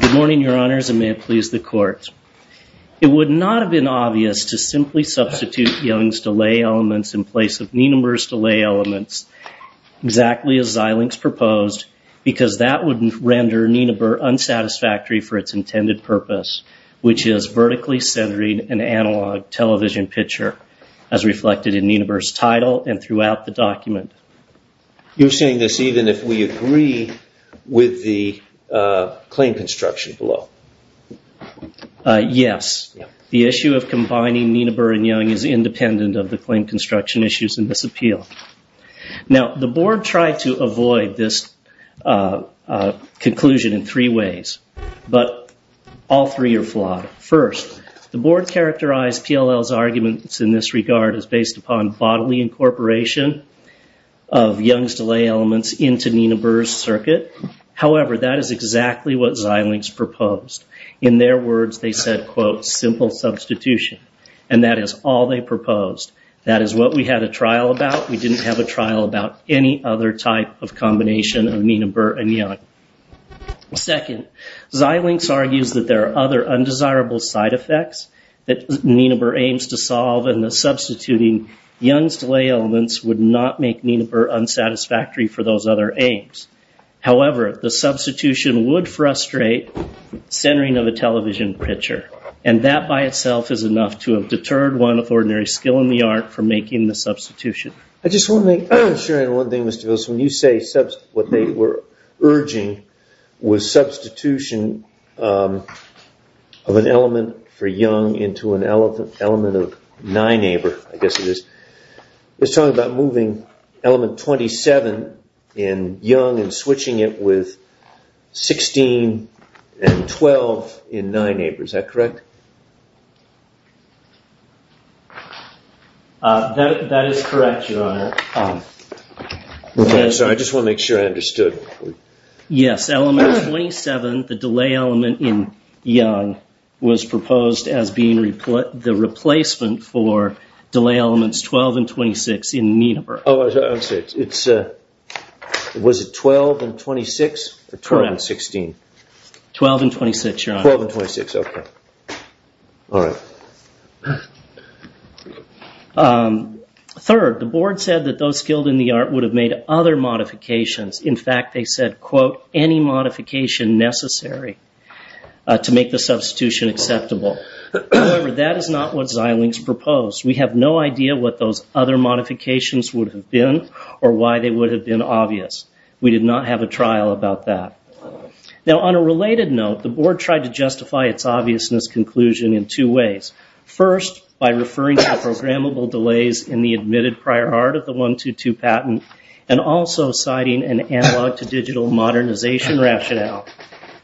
Good morning, Your Honors, and may it please the Court. It would not have been obvious to simply substitute Young's delay elements in place of Nienaber's delay elements, exactly as Xilinx proposed, because that would render Nienaber unsatisfactory for its intended purpose, which is vertically centering an analog television picture, as reflected in Nienaber's title and throughout the document. You're saying this even if we agree with the claim construction below? Yes. The issue of combining Nienaber and Young is independent of the claim construction issues in this appeal. Now the Board tried to avoid this conclusion in three ways, but all three are flawed. First, the Board characterized PLL's arguments in this regard as based upon bodily incorporation of Young's delay elements into Nienaber's circuit. However, that is exactly what Xilinx proposed. In their words, they said, quote, simple substitution, and that is all they proposed. That is what we had a trial about. We didn't have a trial about any other type of combination of Nienaber and Young. Second, Xilinx argues that there are other undesirable side effects that Nienaber aims to solve, and that substituting Young's delay elements would not make Nienaber unsatisfactory for those other aims. However, the substitution would frustrate centering of a television picture, and that by itself is enough to have deterred one with ordinary skill in the art from making the substitution. I just want to make sure on one thing, Mr. Phelps, when you say what they were urging was substitution of an element for Young into an element of Nienaber, I guess it is, it's switching it with 16 and 12 in Nienaber, is that correct? That is correct, your honor. I just want to make sure I understood. Yes, element 27, the delay element in Young, was proposed as being the replacement for delay elements 12 and 26 in Nienaber. Oh, I see. Was it 12 and 26 or 12 and 16? 12 and 26, your honor. 12 and 26, okay. All right. Third, the board said that those skilled in the art would have made other modifications. In fact, they said, quote, any modification necessary to make the substitution acceptable. However, that is not what Xilinx proposed. We have no idea what those other modifications would have been or why they would have been obvious. We did not have a trial about that. Now, on a related note, the board tried to justify its obviousness conclusion in two ways. First, by referring to programmable delays in the admitted prior art of the 122 patent and also citing an analog to digital modernization rationale.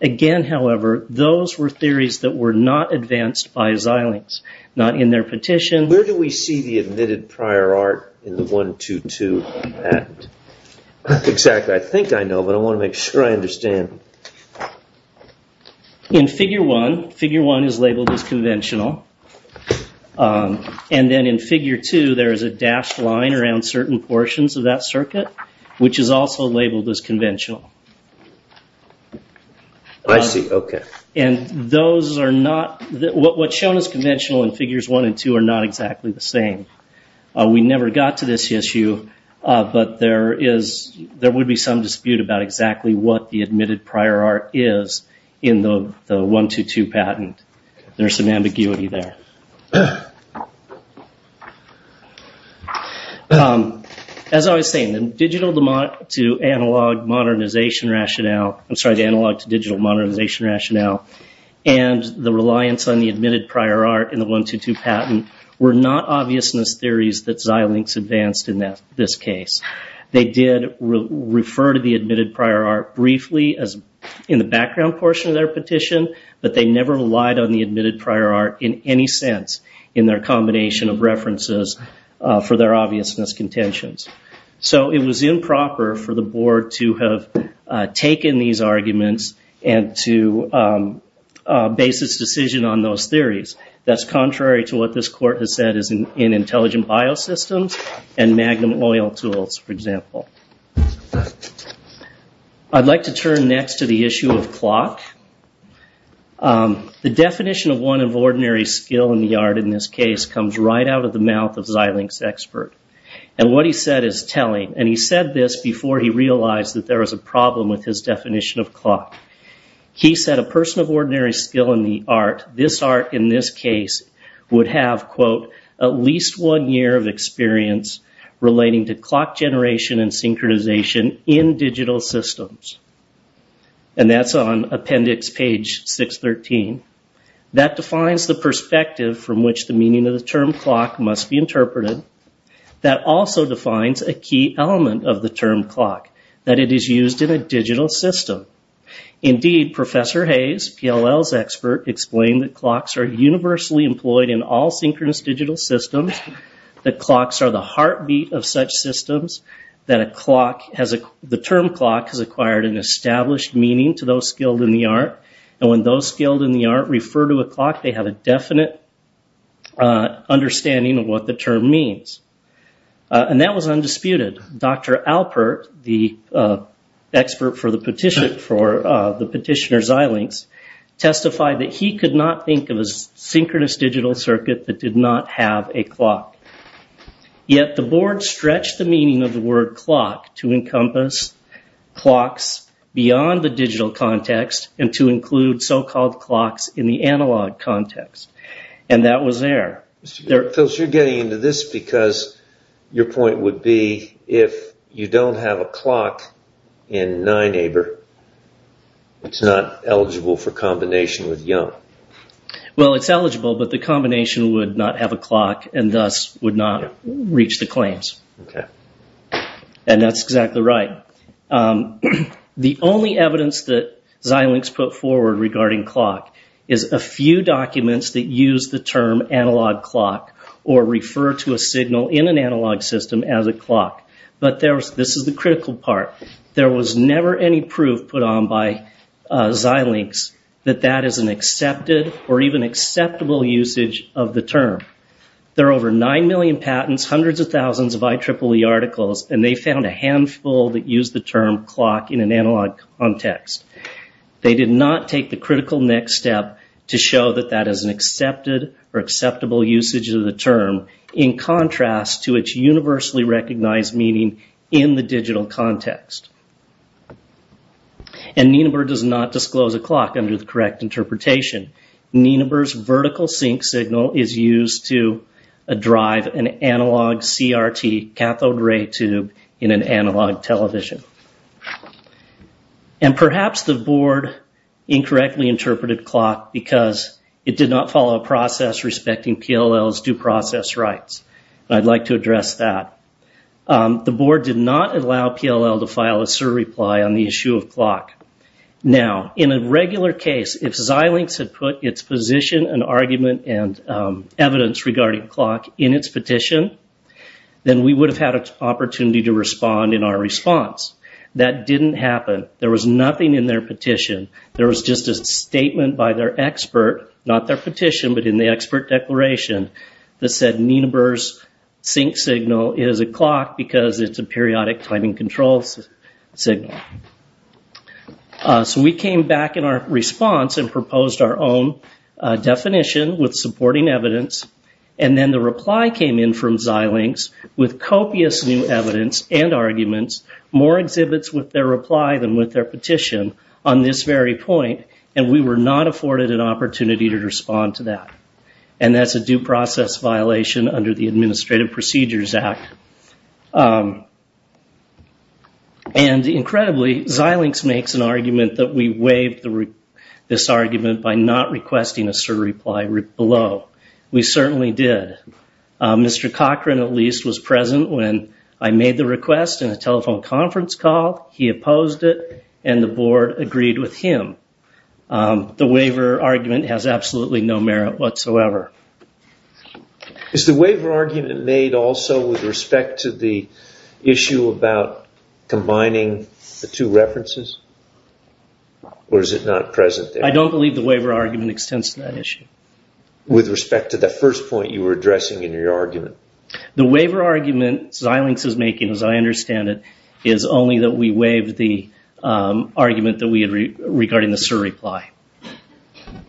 Again, however, those were theories that were not advanced by Xilinx. Not in their petition. Where do we see the admitted prior art in the 122 patent? Exactly. I think I know, but I want to make sure I understand. In figure one, figure one is labeled as conventional. And then in figure two, there is a dashed line around certain portions of that circuit, which is also labeled as conventional. I see. Okay. And those are not, what's shown as conventional in figures one and two are not exactly the same. We never got to this issue, but there is, there would be some dispute about exactly what the admitted prior art is in the 122 patent. There's some ambiguity there. As I was saying, digital to analog modernization rationale, I'm sorry, the analog to digital modernization rationale and the reliance on the admitted prior art in the 122 patent were not obviousness theories that Xilinx advanced in this case. They did refer to the admitted prior art briefly in the background portion of their petition, but they never relied on the admitted prior art in any sense in their combination of references for their obviousness contentions. So it was improper for the board to have taken these arguments and to base its decision on those theories. That's contrary to what this court has said is in intelligent biosystems and magnum oil tools, for example. I'd like to turn next to the issue of clock. The definition of one of ordinary skill in the art in this case comes right out of the mouth of Xilinx expert. And what he said is telling. And he said this before he realized that there was a problem with his definition of clock. He said a person of ordinary skill in the art, this art in this case, would have, quote, at least one year of experience relating to clock generation and synchronization in digital systems. And that's on appendix page 613. That defines the perspective from which the meaning of the term clock must be interpreted. That also defines a key element of the term clock, that it is used in a digital system. Indeed, Professor Hayes, PLL's expert, explained that clocks are universally employed in all synchronous digital systems, that clocks are the heartbeat of such systems, that the term clock has acquired an established meaning to those skilled in the art. And when those skilled in the art refer to a clock, they have a definite understanding of what the term means. And that was undisputed. Dr. Alpert, the expert for the petitioner Xilinx, testified that he could not think of a synchronous digital circuit that did not have a clock. Yet the board stretched the meaning of the word clock to encompass clocks beyond the so-called clocks in the analog context. And that was there. Phil, you're getting into this because your point would be if you don't have a clock in Nineaber, it's not eligible for combination with YUM. Well, it's eligible, but the combination would not have a clock and thus would not reach the claims. And that's exactly right. The only evidence that Xilinx put forward regarding clock is a few documents that use the term analog clock or refer to a signal in an analog system as a clock. But this is the critical part. There was never any proof put on by Xilinx that that is an accepted or even acceptable usage of the term. There are over nine million patents, hundreds of thousands of IEEE articles, and they found a handful that used the term clock in an analog context. They did not take the critical next step to show that that is an accepted or acceptable usage of the term in contrast to its universally recognized meaning in the digital context. And Nineaber does not disclose a clock under the correct interpretation. Nineaber's vertical sync signal is used to drive an analog CRT cathode ray tube in an analog television. And perhaps the board incorrectly interpreted clock because it did not follow a process respecting PLL's due process rights. I'd like to address that. The board did not allow PLL to file a surreply on the issue of clock. Now, in a regular case, if Xilinx had put its position and argument and evidence regarding clock in its petition, then we would have had an opportunity to respond in our response. That didn't happen. There was nothing in their petition. There was just a statement by their expert, not their petition, but in the expert declaration, that said Nineaber's sync signal is a clock because it's a periodic timing control signal. So we came back in our response and proposed our own definition with supporting evidence, and then the reply came in from Xilinx with copious new evidence and arguments, more exhibits with their reply than with their petition on this very point, and we were not afforded an opportunity to respond to that. And that's a due process violation under the Administrative Procedures Act. And, incredibly, Xilinx makes an argument that we waived this argument by not requesting a surreply below. We certainly did. Mr. Cochran, at least, was present when I made the request in a telephone conference call. He opposed it, and the board agreed with him. The waiver argument has absolutely no merit whatsoever. Is the waiver argument made also with respect to the issue about combining the two references? Or is it not present there? I don't believe the waiver argument extends to that issue. With respect to the first point you were addressing in your argument? The waiver argument Xilinx is making, as I understand it, is only that we waived the argument regarding the surreply.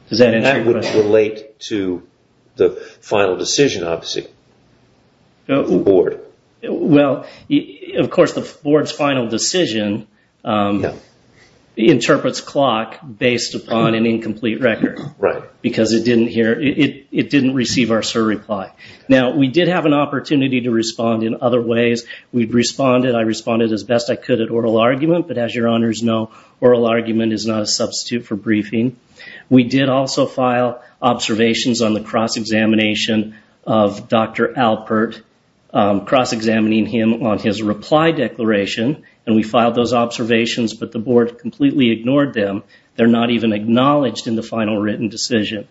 Does that answer your question? How does that relate to the final decision, obviously, of the board? Well, of course, the board's final decision interprets clock based upon an incomplete record. Right. Because it didn't receive our surreply. Now, we did have an opportunity to respond in other ways. I responded as best I could at oral argument. We did also file observations on the cross-examination of Dr. Alpert, cross-examining him on his reply declaration. We filed those observations, but the board completely ignored them. They're not even acknowledged in the final written decision.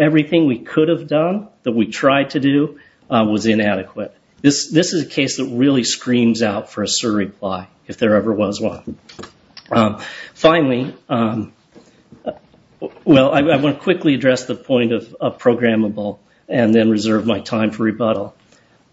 Everything we could have done, that we tried to do, was inadequate. This is a case that really screams out for a surreply, if there ever was one. Finally, well, I want to quickly address the point of programmable and then reserve my time for rebuttal.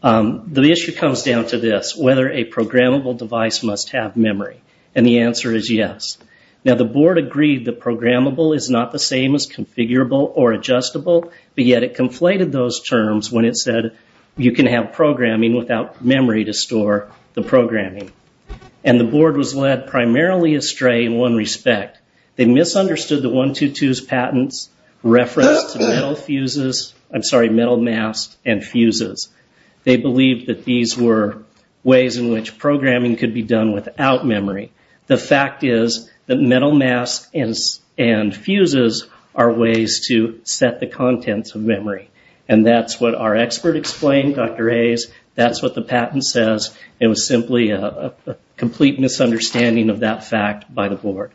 The issue comes down to this, whether a programmable device must have memory. And the answer is yes. Now, the board agreed that programmable is not the same as configurable or adjustable, but yet it conflated those terms when it said you can have programming without memory to store the programming. And the board was led primarily astray in one respect. They misunderstood the 1-2-2's patents, reference to metal fuses, I'm sorry, metal masks and fuses. They believed that these were ways in which programming could be done without memory. The fact is that metal masks and fuses are ways to set the contents of memory. And that's what our expert explained, Dr. Hayes. That's what the patent says. It was simply a complete misunderstanding of that fact by the board.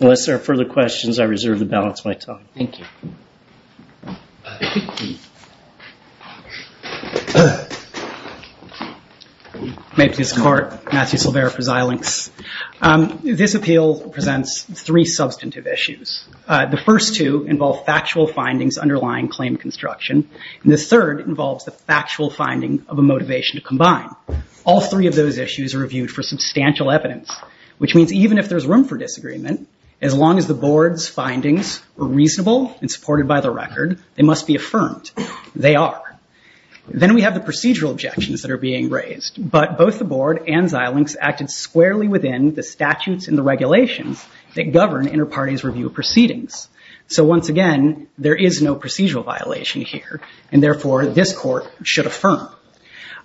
Unless there are further questions, I reserve the balance of my time. Thank you. May it please the court. Matthew Silvera for Xilinx. This appeal presents three substantive issues. The first two involve factual findings underlying claim construction. And the third involves the factual finding of a motivation to combine. All three of those issues are reviewed for substantial evidence, which means even if there's room for disagreement, as long as the board's findings are reasonable and supported by the record, they must be affirmed. They are. Then we have the procedural objections that are being raised. But both the board and Xilinx acted squarely within the statutes and the regulations that govern inter-parties review of proceedings. So once again, there is no procedural violation here. And therefore, this court should affirm.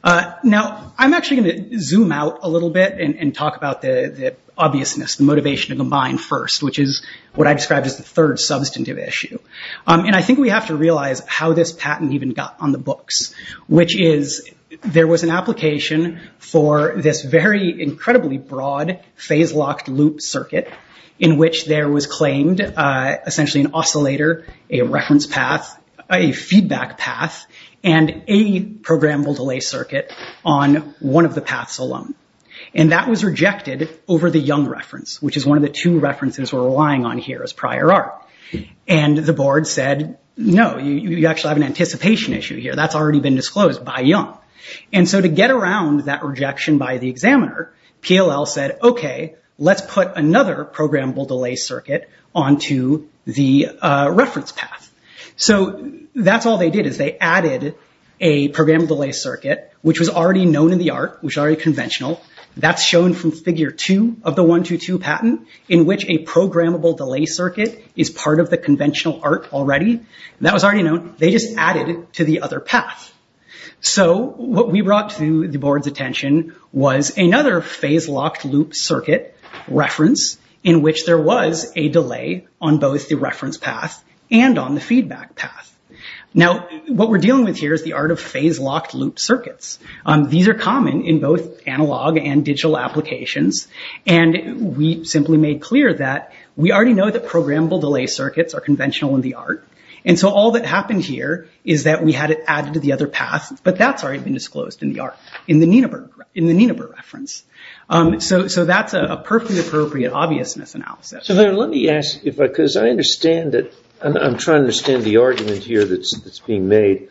Now, I'm actually going to zoom out a little bit and talk about the obviousness, the motivation to combine first, which is what I described as the third substantive issue. And I think we have to realize how this patent even got on the books, which is there was an application for this very incredibly broad phase-locked loop circuit in which there was claimed essentially an oscillator, a reference path, a feedback path, and a programmable delay circuit on one of the paths alone. And that was rejected over the Young reference, which is one of the two references we're relying on here as prior art. And the board said, no, you actually have an anticipation issue here. That's already been disclosed by Young. And so to get around that rejection by the examiner, PLL said, OK, let's put another programmable delay circuit onto the reference path. So that's all they did is they added a programmable delay circuit, which was already known in the art, which is already conventional. That's shown from figure two of the 1-2-2 patent in which a programmable delay circuit is part of the conventional art already. That was already known. They just added it to the other path. So what we brought to the board's attention was another phase-locked loop circuit reference in which there was a delay on both the reference path and on the feedback path. Now, what we're dealing with here is the art of phase-locked loop circuits. These are common in both analog and digital applications. And we simply made clear that we already know that programmable delay circuits are conventional in the art. And so all that happened here is that we had it added to the other path, but that's already been disclosed in the art, in the Nienaber reference. So that's a perfectly appropriate obvious misanalysis. So let me ask, because I understand it. I'm trying to understand the argument here that's being made.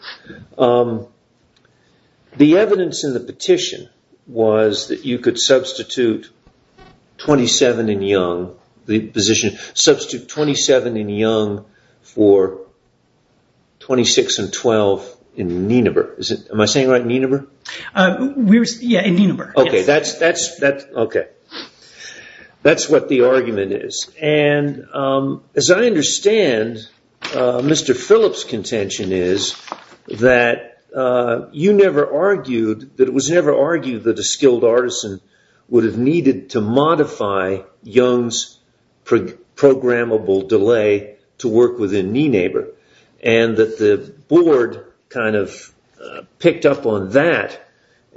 The evidence in the petition was that you could substitute 27 in Young, the position, substitute 27 in Young for 26 and 12 in Nienaber. Am I saying it right, Nienaber? Yeah, in Nienaber. Okay, that's what the argument is. And as I understand, Mr. Phillips' contention is that you never argued, that it was never argued that a skilled artisan would have needed to modify Young's programmable delay to work within Nienaber. And that the board kind of picked up on that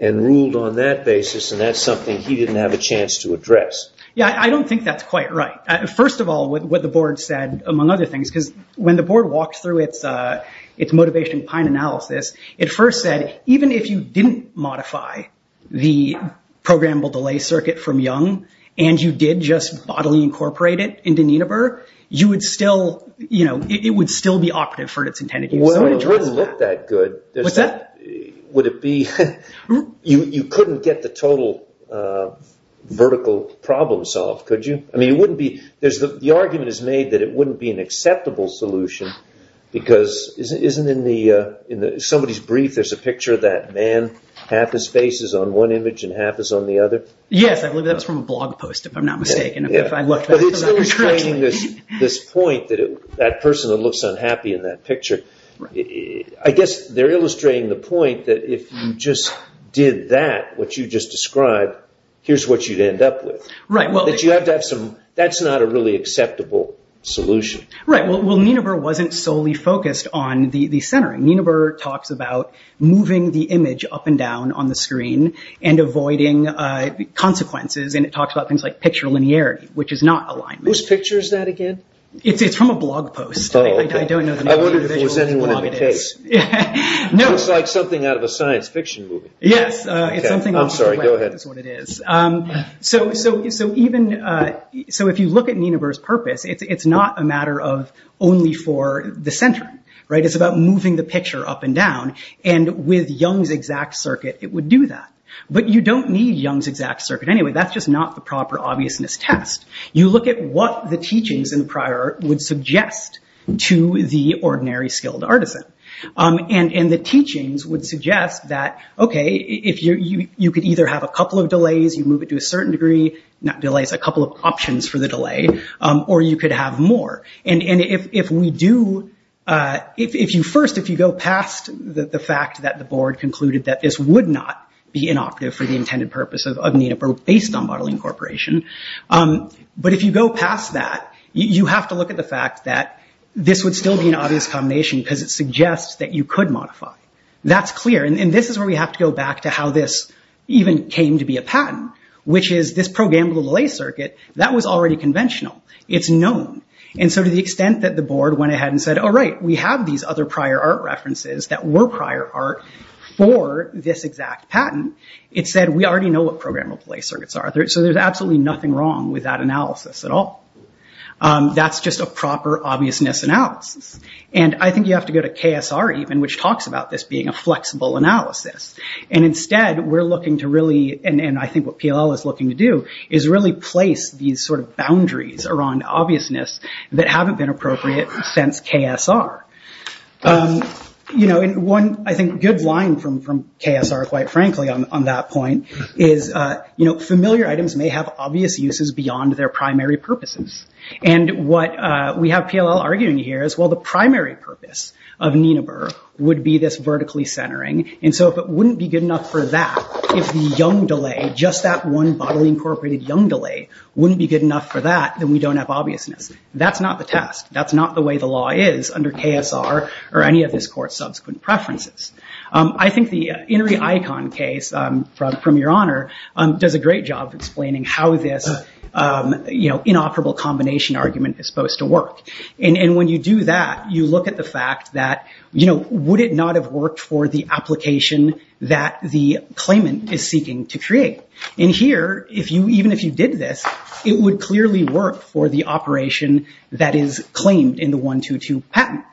and ruled on that basis, and that's something he didn't have a chance to address. Yeah, I don't think that's quite right. First of all, what the board said, among other things, because when the board walked through its motivation pine analysis, it first said, even if you didn't modify the programmable delay circuit from Young, and you did just bodily incorporate it into Nienaber, it would still be operative for its intended use. Well, it wouldn't look that good. What's that? You couldn't get the total vertical problem solved, could you? The argument is made that it wouldn't be an acceptable solution, because isn't in somebody's brief, there's a picture of that man, half his face is on one image and half is on the other? Yes, I believe that was from a blog post, if I'm not mistaken. But it's illustrating this point, that person that looks unhappy in that picture, I guess they're illustrating the point that if you just did that, what you just described, here's what you'd end up with. Right. That's not a really acceptable solution. Right. Well, Nienaber wasn't solely focused on the centering. Nienaber talks about moving the image up and down on the screen and avoiding consequences, and it talks about things like picture linearity, which is not alignment. Whose picture is that again? It's from a blog post. I don't know the individual whose blog it is. I wondered if it was anyone in the case. It looks like something out of a science fiction movie. Yes. I'm sorry, go ahead. It's what it is. So if you look at Nienaber's purpose, it's not a matter of only for the centering. It's about moving the picture up and down, and with Young's exact circuit, it would do that. But you don't need Young's exact circuit anyway. That's just not the proper obviousness test. You look at what the teachings in the prior art would suggest to the ordinary skilled artisan. And the teachings would suggest that, okay, you could either have a couple of delays, you move it to a certain degree, not delays, a couple of options for the delay, or you could have more. And first, if you go past the fact that the board concluded that this would not be inoperative for the intended purpose of Nienaber based on bodily incorporation, but if you go past that, you have to look at the fact that this would still be an obvious combination because it suggests that you could modify. That's clear. And this is where we have to go back to how this even came to be a patent, which is this programmable delay circuit, that was already conventional. It's known. And so to the extent that the board went ahead and said, all right, we have these other prior art references that were prior art for this exact patent. It said, we already know what programmable delay circuits are. So there's absolutely nothing wrong with that analysis at all. That's just a proper obviousness analysis. And I think you have to go to KSR even, which talks about this being a flexible analysis. And instead, we're looking to really, and I think what PLL is looking to do, is really place these sort of boundaries around obviousness that haven't been appropriate since KSR. And one, I think, good line from KSR, quite frankly, on that point, is familiar items may have obvious uses beyond their primary purposes. And what we have PLL arguing here is, well, the primary purpose of Nienaber would be this vertically centering. And so if it wouldn't be good enough for that, if the Young delay, just that one bodily incorporated Young delay, wouldn't be good enough for that, then we don't have obviousness. That's not the test. That's not the way the law is under KSR or any of this court's subsequent preferences. I think the Inri Aikon case, from your honor, does a great job of explaining how this inoperable combination argument is supposed to work. And when you do that, you look at the fact that, would it not have worked for the application that the claimant is seeking to create? And here, even if you did this, it would clearly work for the operation that is claimed in the 1-2-2 patent.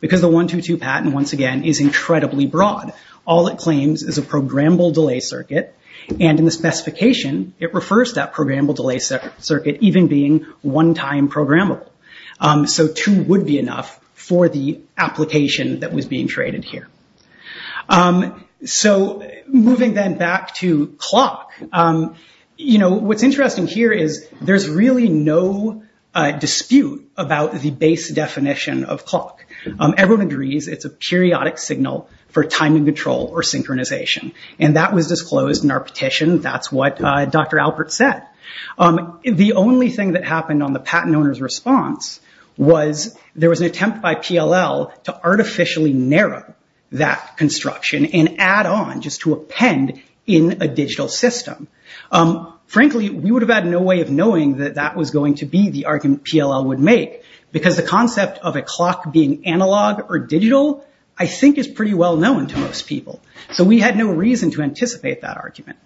Because the 1-2-2 patent, once again, is incredibly broad. All it claims is a programmable delay circuit. And in the specification, it refers to that programmable delay circuit even being one-time programmable. So two would be enough for the application that was being created here. So, moving then back to clock, what's interesting here is there's really no dispute about the base definition of clock. Everyone agrees it's a periodic signal for timing control or synchronization. And that was disclosed in our petition. That's what Dr. Alpert said. The only thing that happened on the patent owner's response was there was an attempt by PLL to artificially narrow that construction and add on just to append in a digital system. Frankly, we would have had no way of knowing that that was going to be the argument PLL would make. Because the concept of a clock being analog or digital I think is pretty well known to most people. So we had no reason to anticipate that argument.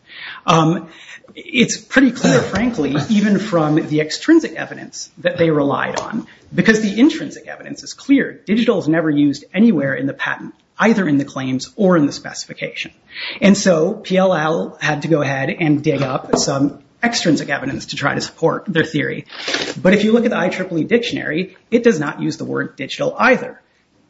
It's pretty clear, frankly, even from the extrinsic evidence that they relied on. Because the intrinsic evidence is clear. Digital is never used anywhere in the patent, either in the claims or in the specification. And so PLL had to go ahead and dig up some extrinsic evidence to try to support their theory. But if you look at the IEEE dictionary, it does not use the word digital either.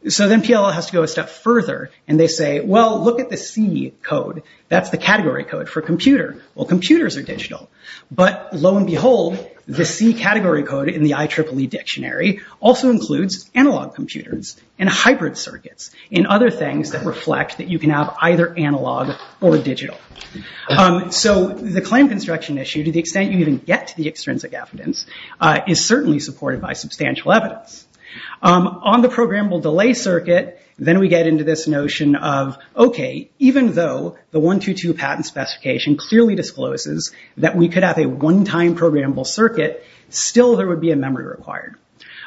So then PLL has to go a step further and they say, well, look at the C code. That's the category code for computer. Well, computers are digital. But lo and behold, the C category code in the IEEE dictionary also includes analog computers and hybrid circuits and other things that reflect that you can have either analog or digital. So the claim construction issue, to the extent you even get to the extrinsic evidence, is certainly supported by substantial evidence. On the programmable delay circuit, then we get into this notion of, OK, even though the 122 patent specification clearly discloses that we could have a one-time programmable circuit, still there would be a memory required.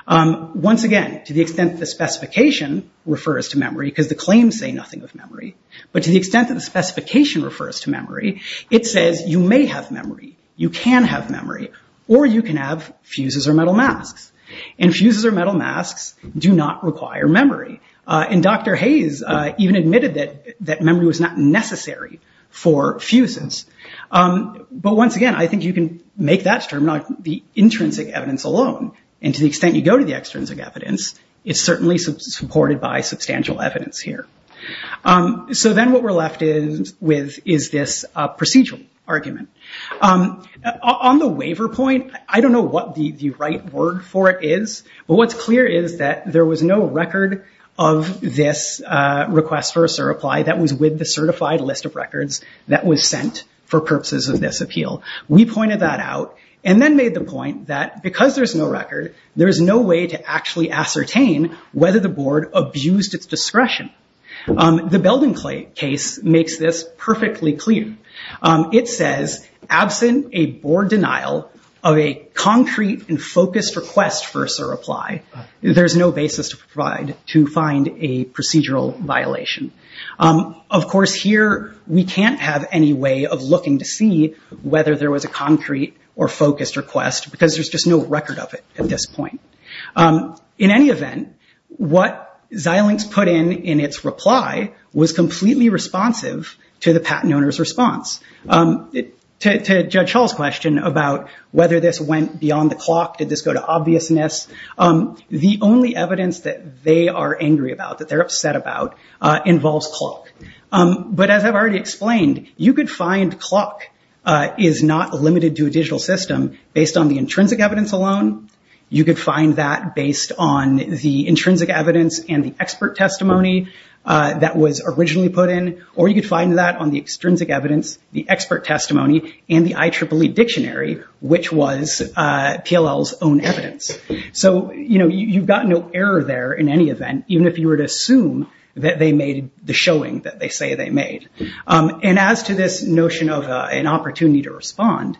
Once again, to the extent the specification refers to memory, because the claims say nothing of memory, but to the extent that the specification refers to memory, it says you may have memory, you can have memory, or you can have fuses or metal masks. And fuses or metal masks do not require memory. And Dr. Hayes even admitted that memory was not necessary for fuses. But once again, I think you can make that statement on the intrinsic evidence alone. And to the extent you go to the extrinsic evidence, it's certainly supported by substantial evidence here. So then what we're left with is this procedural argument. On the waiver point, I don't know what the right word for it is, but what's clear is that there was no record of this request for a SIR reply that was with the certified list of records that was sent for purposes of this appeal. We pointed that out and then made the point that because there's no record, there's no way to actually ascertain whether the board abused its discretion. The Belden case makes this perfectly clear. It says, absent a board denial of a concrete and focused request for a SIR reply, there's no basis to provide to find a procedural violation. Of course, here we can't have any way of looking to see whether there was a concrete or focused request, because there's just no record of it at this point. In any event, what Xilinx put in in its reply was completely responsive to the patent owner's response. To Judge Hull's question about whether this went beyond the clock, did this go to obviousness, the only evidence that they are angry about, that they're upset about, involves clock. But as I've already explained, you could find clock is not limited to a digital system based on the intrinsic evidence alone. You could find that based on the intrinsic evidence and the expert testimony that was originally put in, or you could find that on the extrinsic evidence, the expert testimony, and the IEEE dictionary, which was PLL's own evidence. You've got no error there in any event, even if you were to assume that they made the showing that they say they made. As to this notion of an opportunity to respond,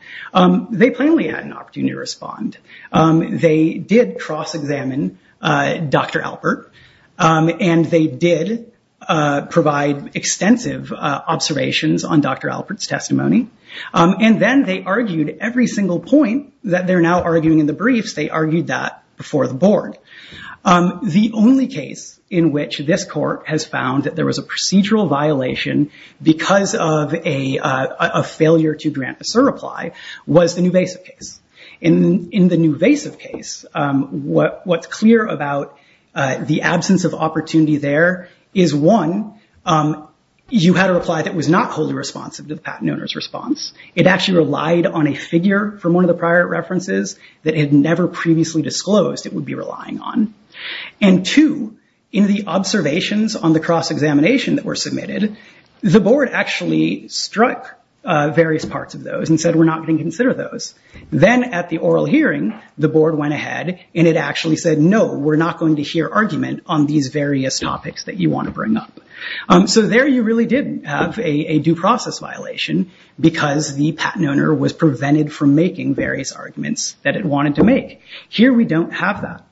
they plainly had an opportunity to respond. They did cross-examine Dr. Albert, and they did provide extensive observations on Dr. Albert's testimony, and then they argued every single point that they're now arguing in the briefs, they argued that before the board. The only case in which this court has found that there was a procedural violation because of a failure to grant a SIR reply was the Nuvasiv case. In the Nuvasiv case, what's clear about the absence of opportunity there is one, you had a reply that was not wholly responsive to the patent owner's response. It actually relied on a figure from one of the prior references that had never previously disclosed it would be relying on. Two, in the observations on the cross-examination that were submitted, the board actually struck various parts of those and said we're not going to consider those. Then at the oral hearing, the board went ahead and it actually said no, we're not going to hear argument on these various topics that you want to bring up. So there you really did have a due process violation because the patent owner was prevented from making various arguments that it wanted to make. Here we don't have that.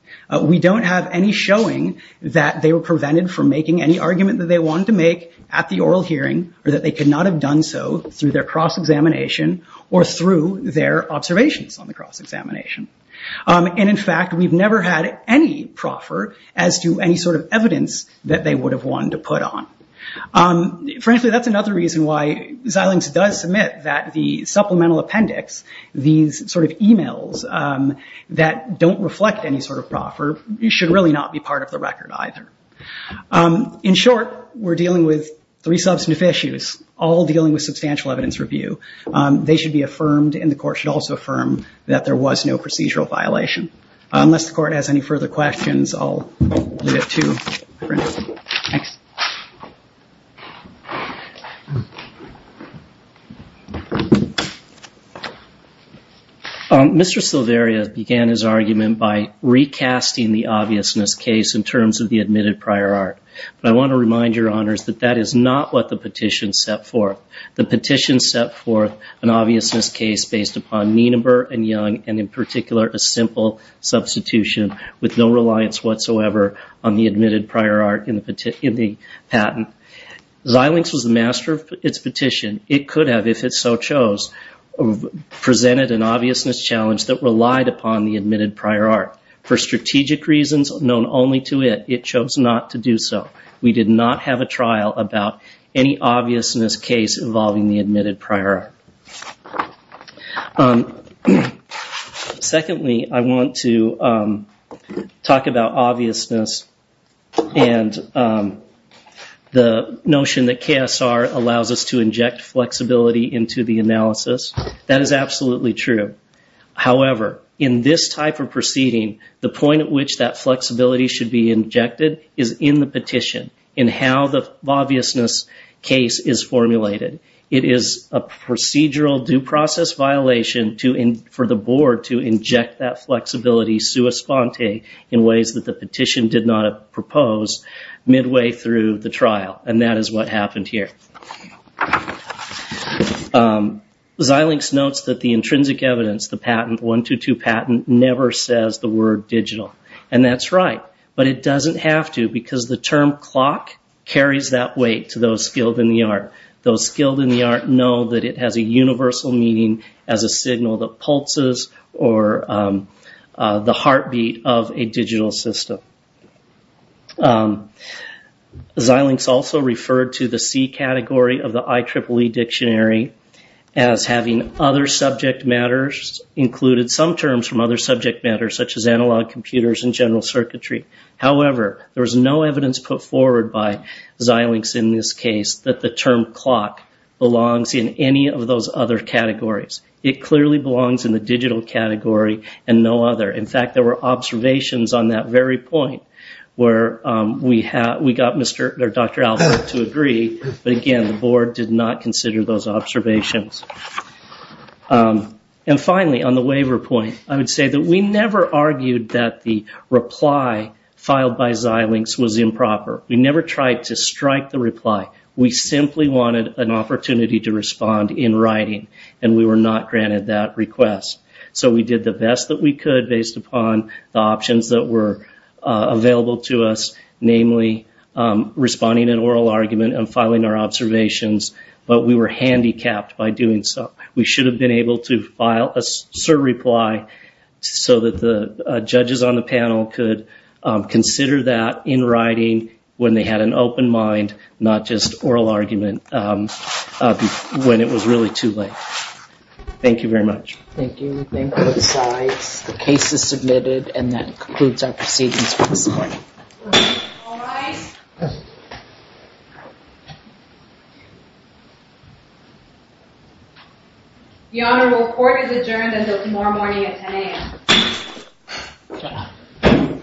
We don't have any showing that they were prevented from making any argument that they wanted to make at the oral hearing or that they could not have done so through their cross-examination or through their observations on the cross-examination. In fact, we've never had any proffer as to any sort of evidence that they would have wanted to put on. Frankly, that's another reason why Xilinx does submit that the supplemental appendix, these sort of emails that don't reflect any sort of proffer, should really not be part of the record either. In short, we're dealing with three substantive issues, all dealing with substantial evidence review. They should be affirmed and the court should also affirm that there was no procedural violation. Unless the court has any further questions, I'll leave it at two. Mr. Silveria began his argument by recasting the obviousness case in terms of the admitted prior art. I want to remind your honors that that is not what the petition set forth. The petition set forth an obviousness case based upon Nienaber and Young and in particular a simple substitution with no reliance whatsoever on the admitted prior art in the patent. Xilinx was the master of its petition. It could have, if it so chose, presented an obviousness challenge that relied upon the admitted prior art. For strategic reasons known only to it, it chose not to do so. We did not have a trial about any obviousness case involving the admitted prior art. Secondly, I want to talk about obviousness and the notion that KSR allows us to inject flexibility into the analysis. That is absolutely true. However, in this type of proceeding, the point at which that flexibility should be injected is in the petition. In how the obviousness case is formulated. It is a procedural due process violation for the board to inject that flexibility sua sponte in ways that the petition did not propose midway through the trial. That is what happened here. Xilinx notes that the intrinsic evidence, the patent, the 1-2-2 patent never says the word digital. That's right, but it doesn't have to because the term clock carries that weight to those skilled in the art. Those skilled in the art know that it has a universal meaning as a signal that pulses or the heartbeat of a digital system. Xilinx also referred to the C category of the IEEE dictionary as having other subject matters included some terms from other subject matters such as analog computers and general circuitry. However, there is no evidence put forward by Xilinx in this case that the term clock belongs in any of those other categories. It clearly belongs in the digital category and no other. In fact, there were observations on that very point where we got Dr. Albert to agree but again, the board did not consider those observations. And finally, on the waiver point, I would say that we never argued that the reply filed by Xilinx was improper. We never tried to strike the reply. We simply wanted an opportunity to respond in writing and we were not granted that request. So we did the best that we could based upon the options that were available to us namely responding in oral argument and filing our observations but we were handicapped by doing so. We should have been able to file a certain reply so that the judges on the panel could consider that in writing when they had an open mind, not just oral argument when it was really too late. Thank you very much. Thank you. We thank both sides. The case is submitted and that concludes our proceedings for this morning. All rise. The honorable court adjourned until tomorrow morning at 10 a.m.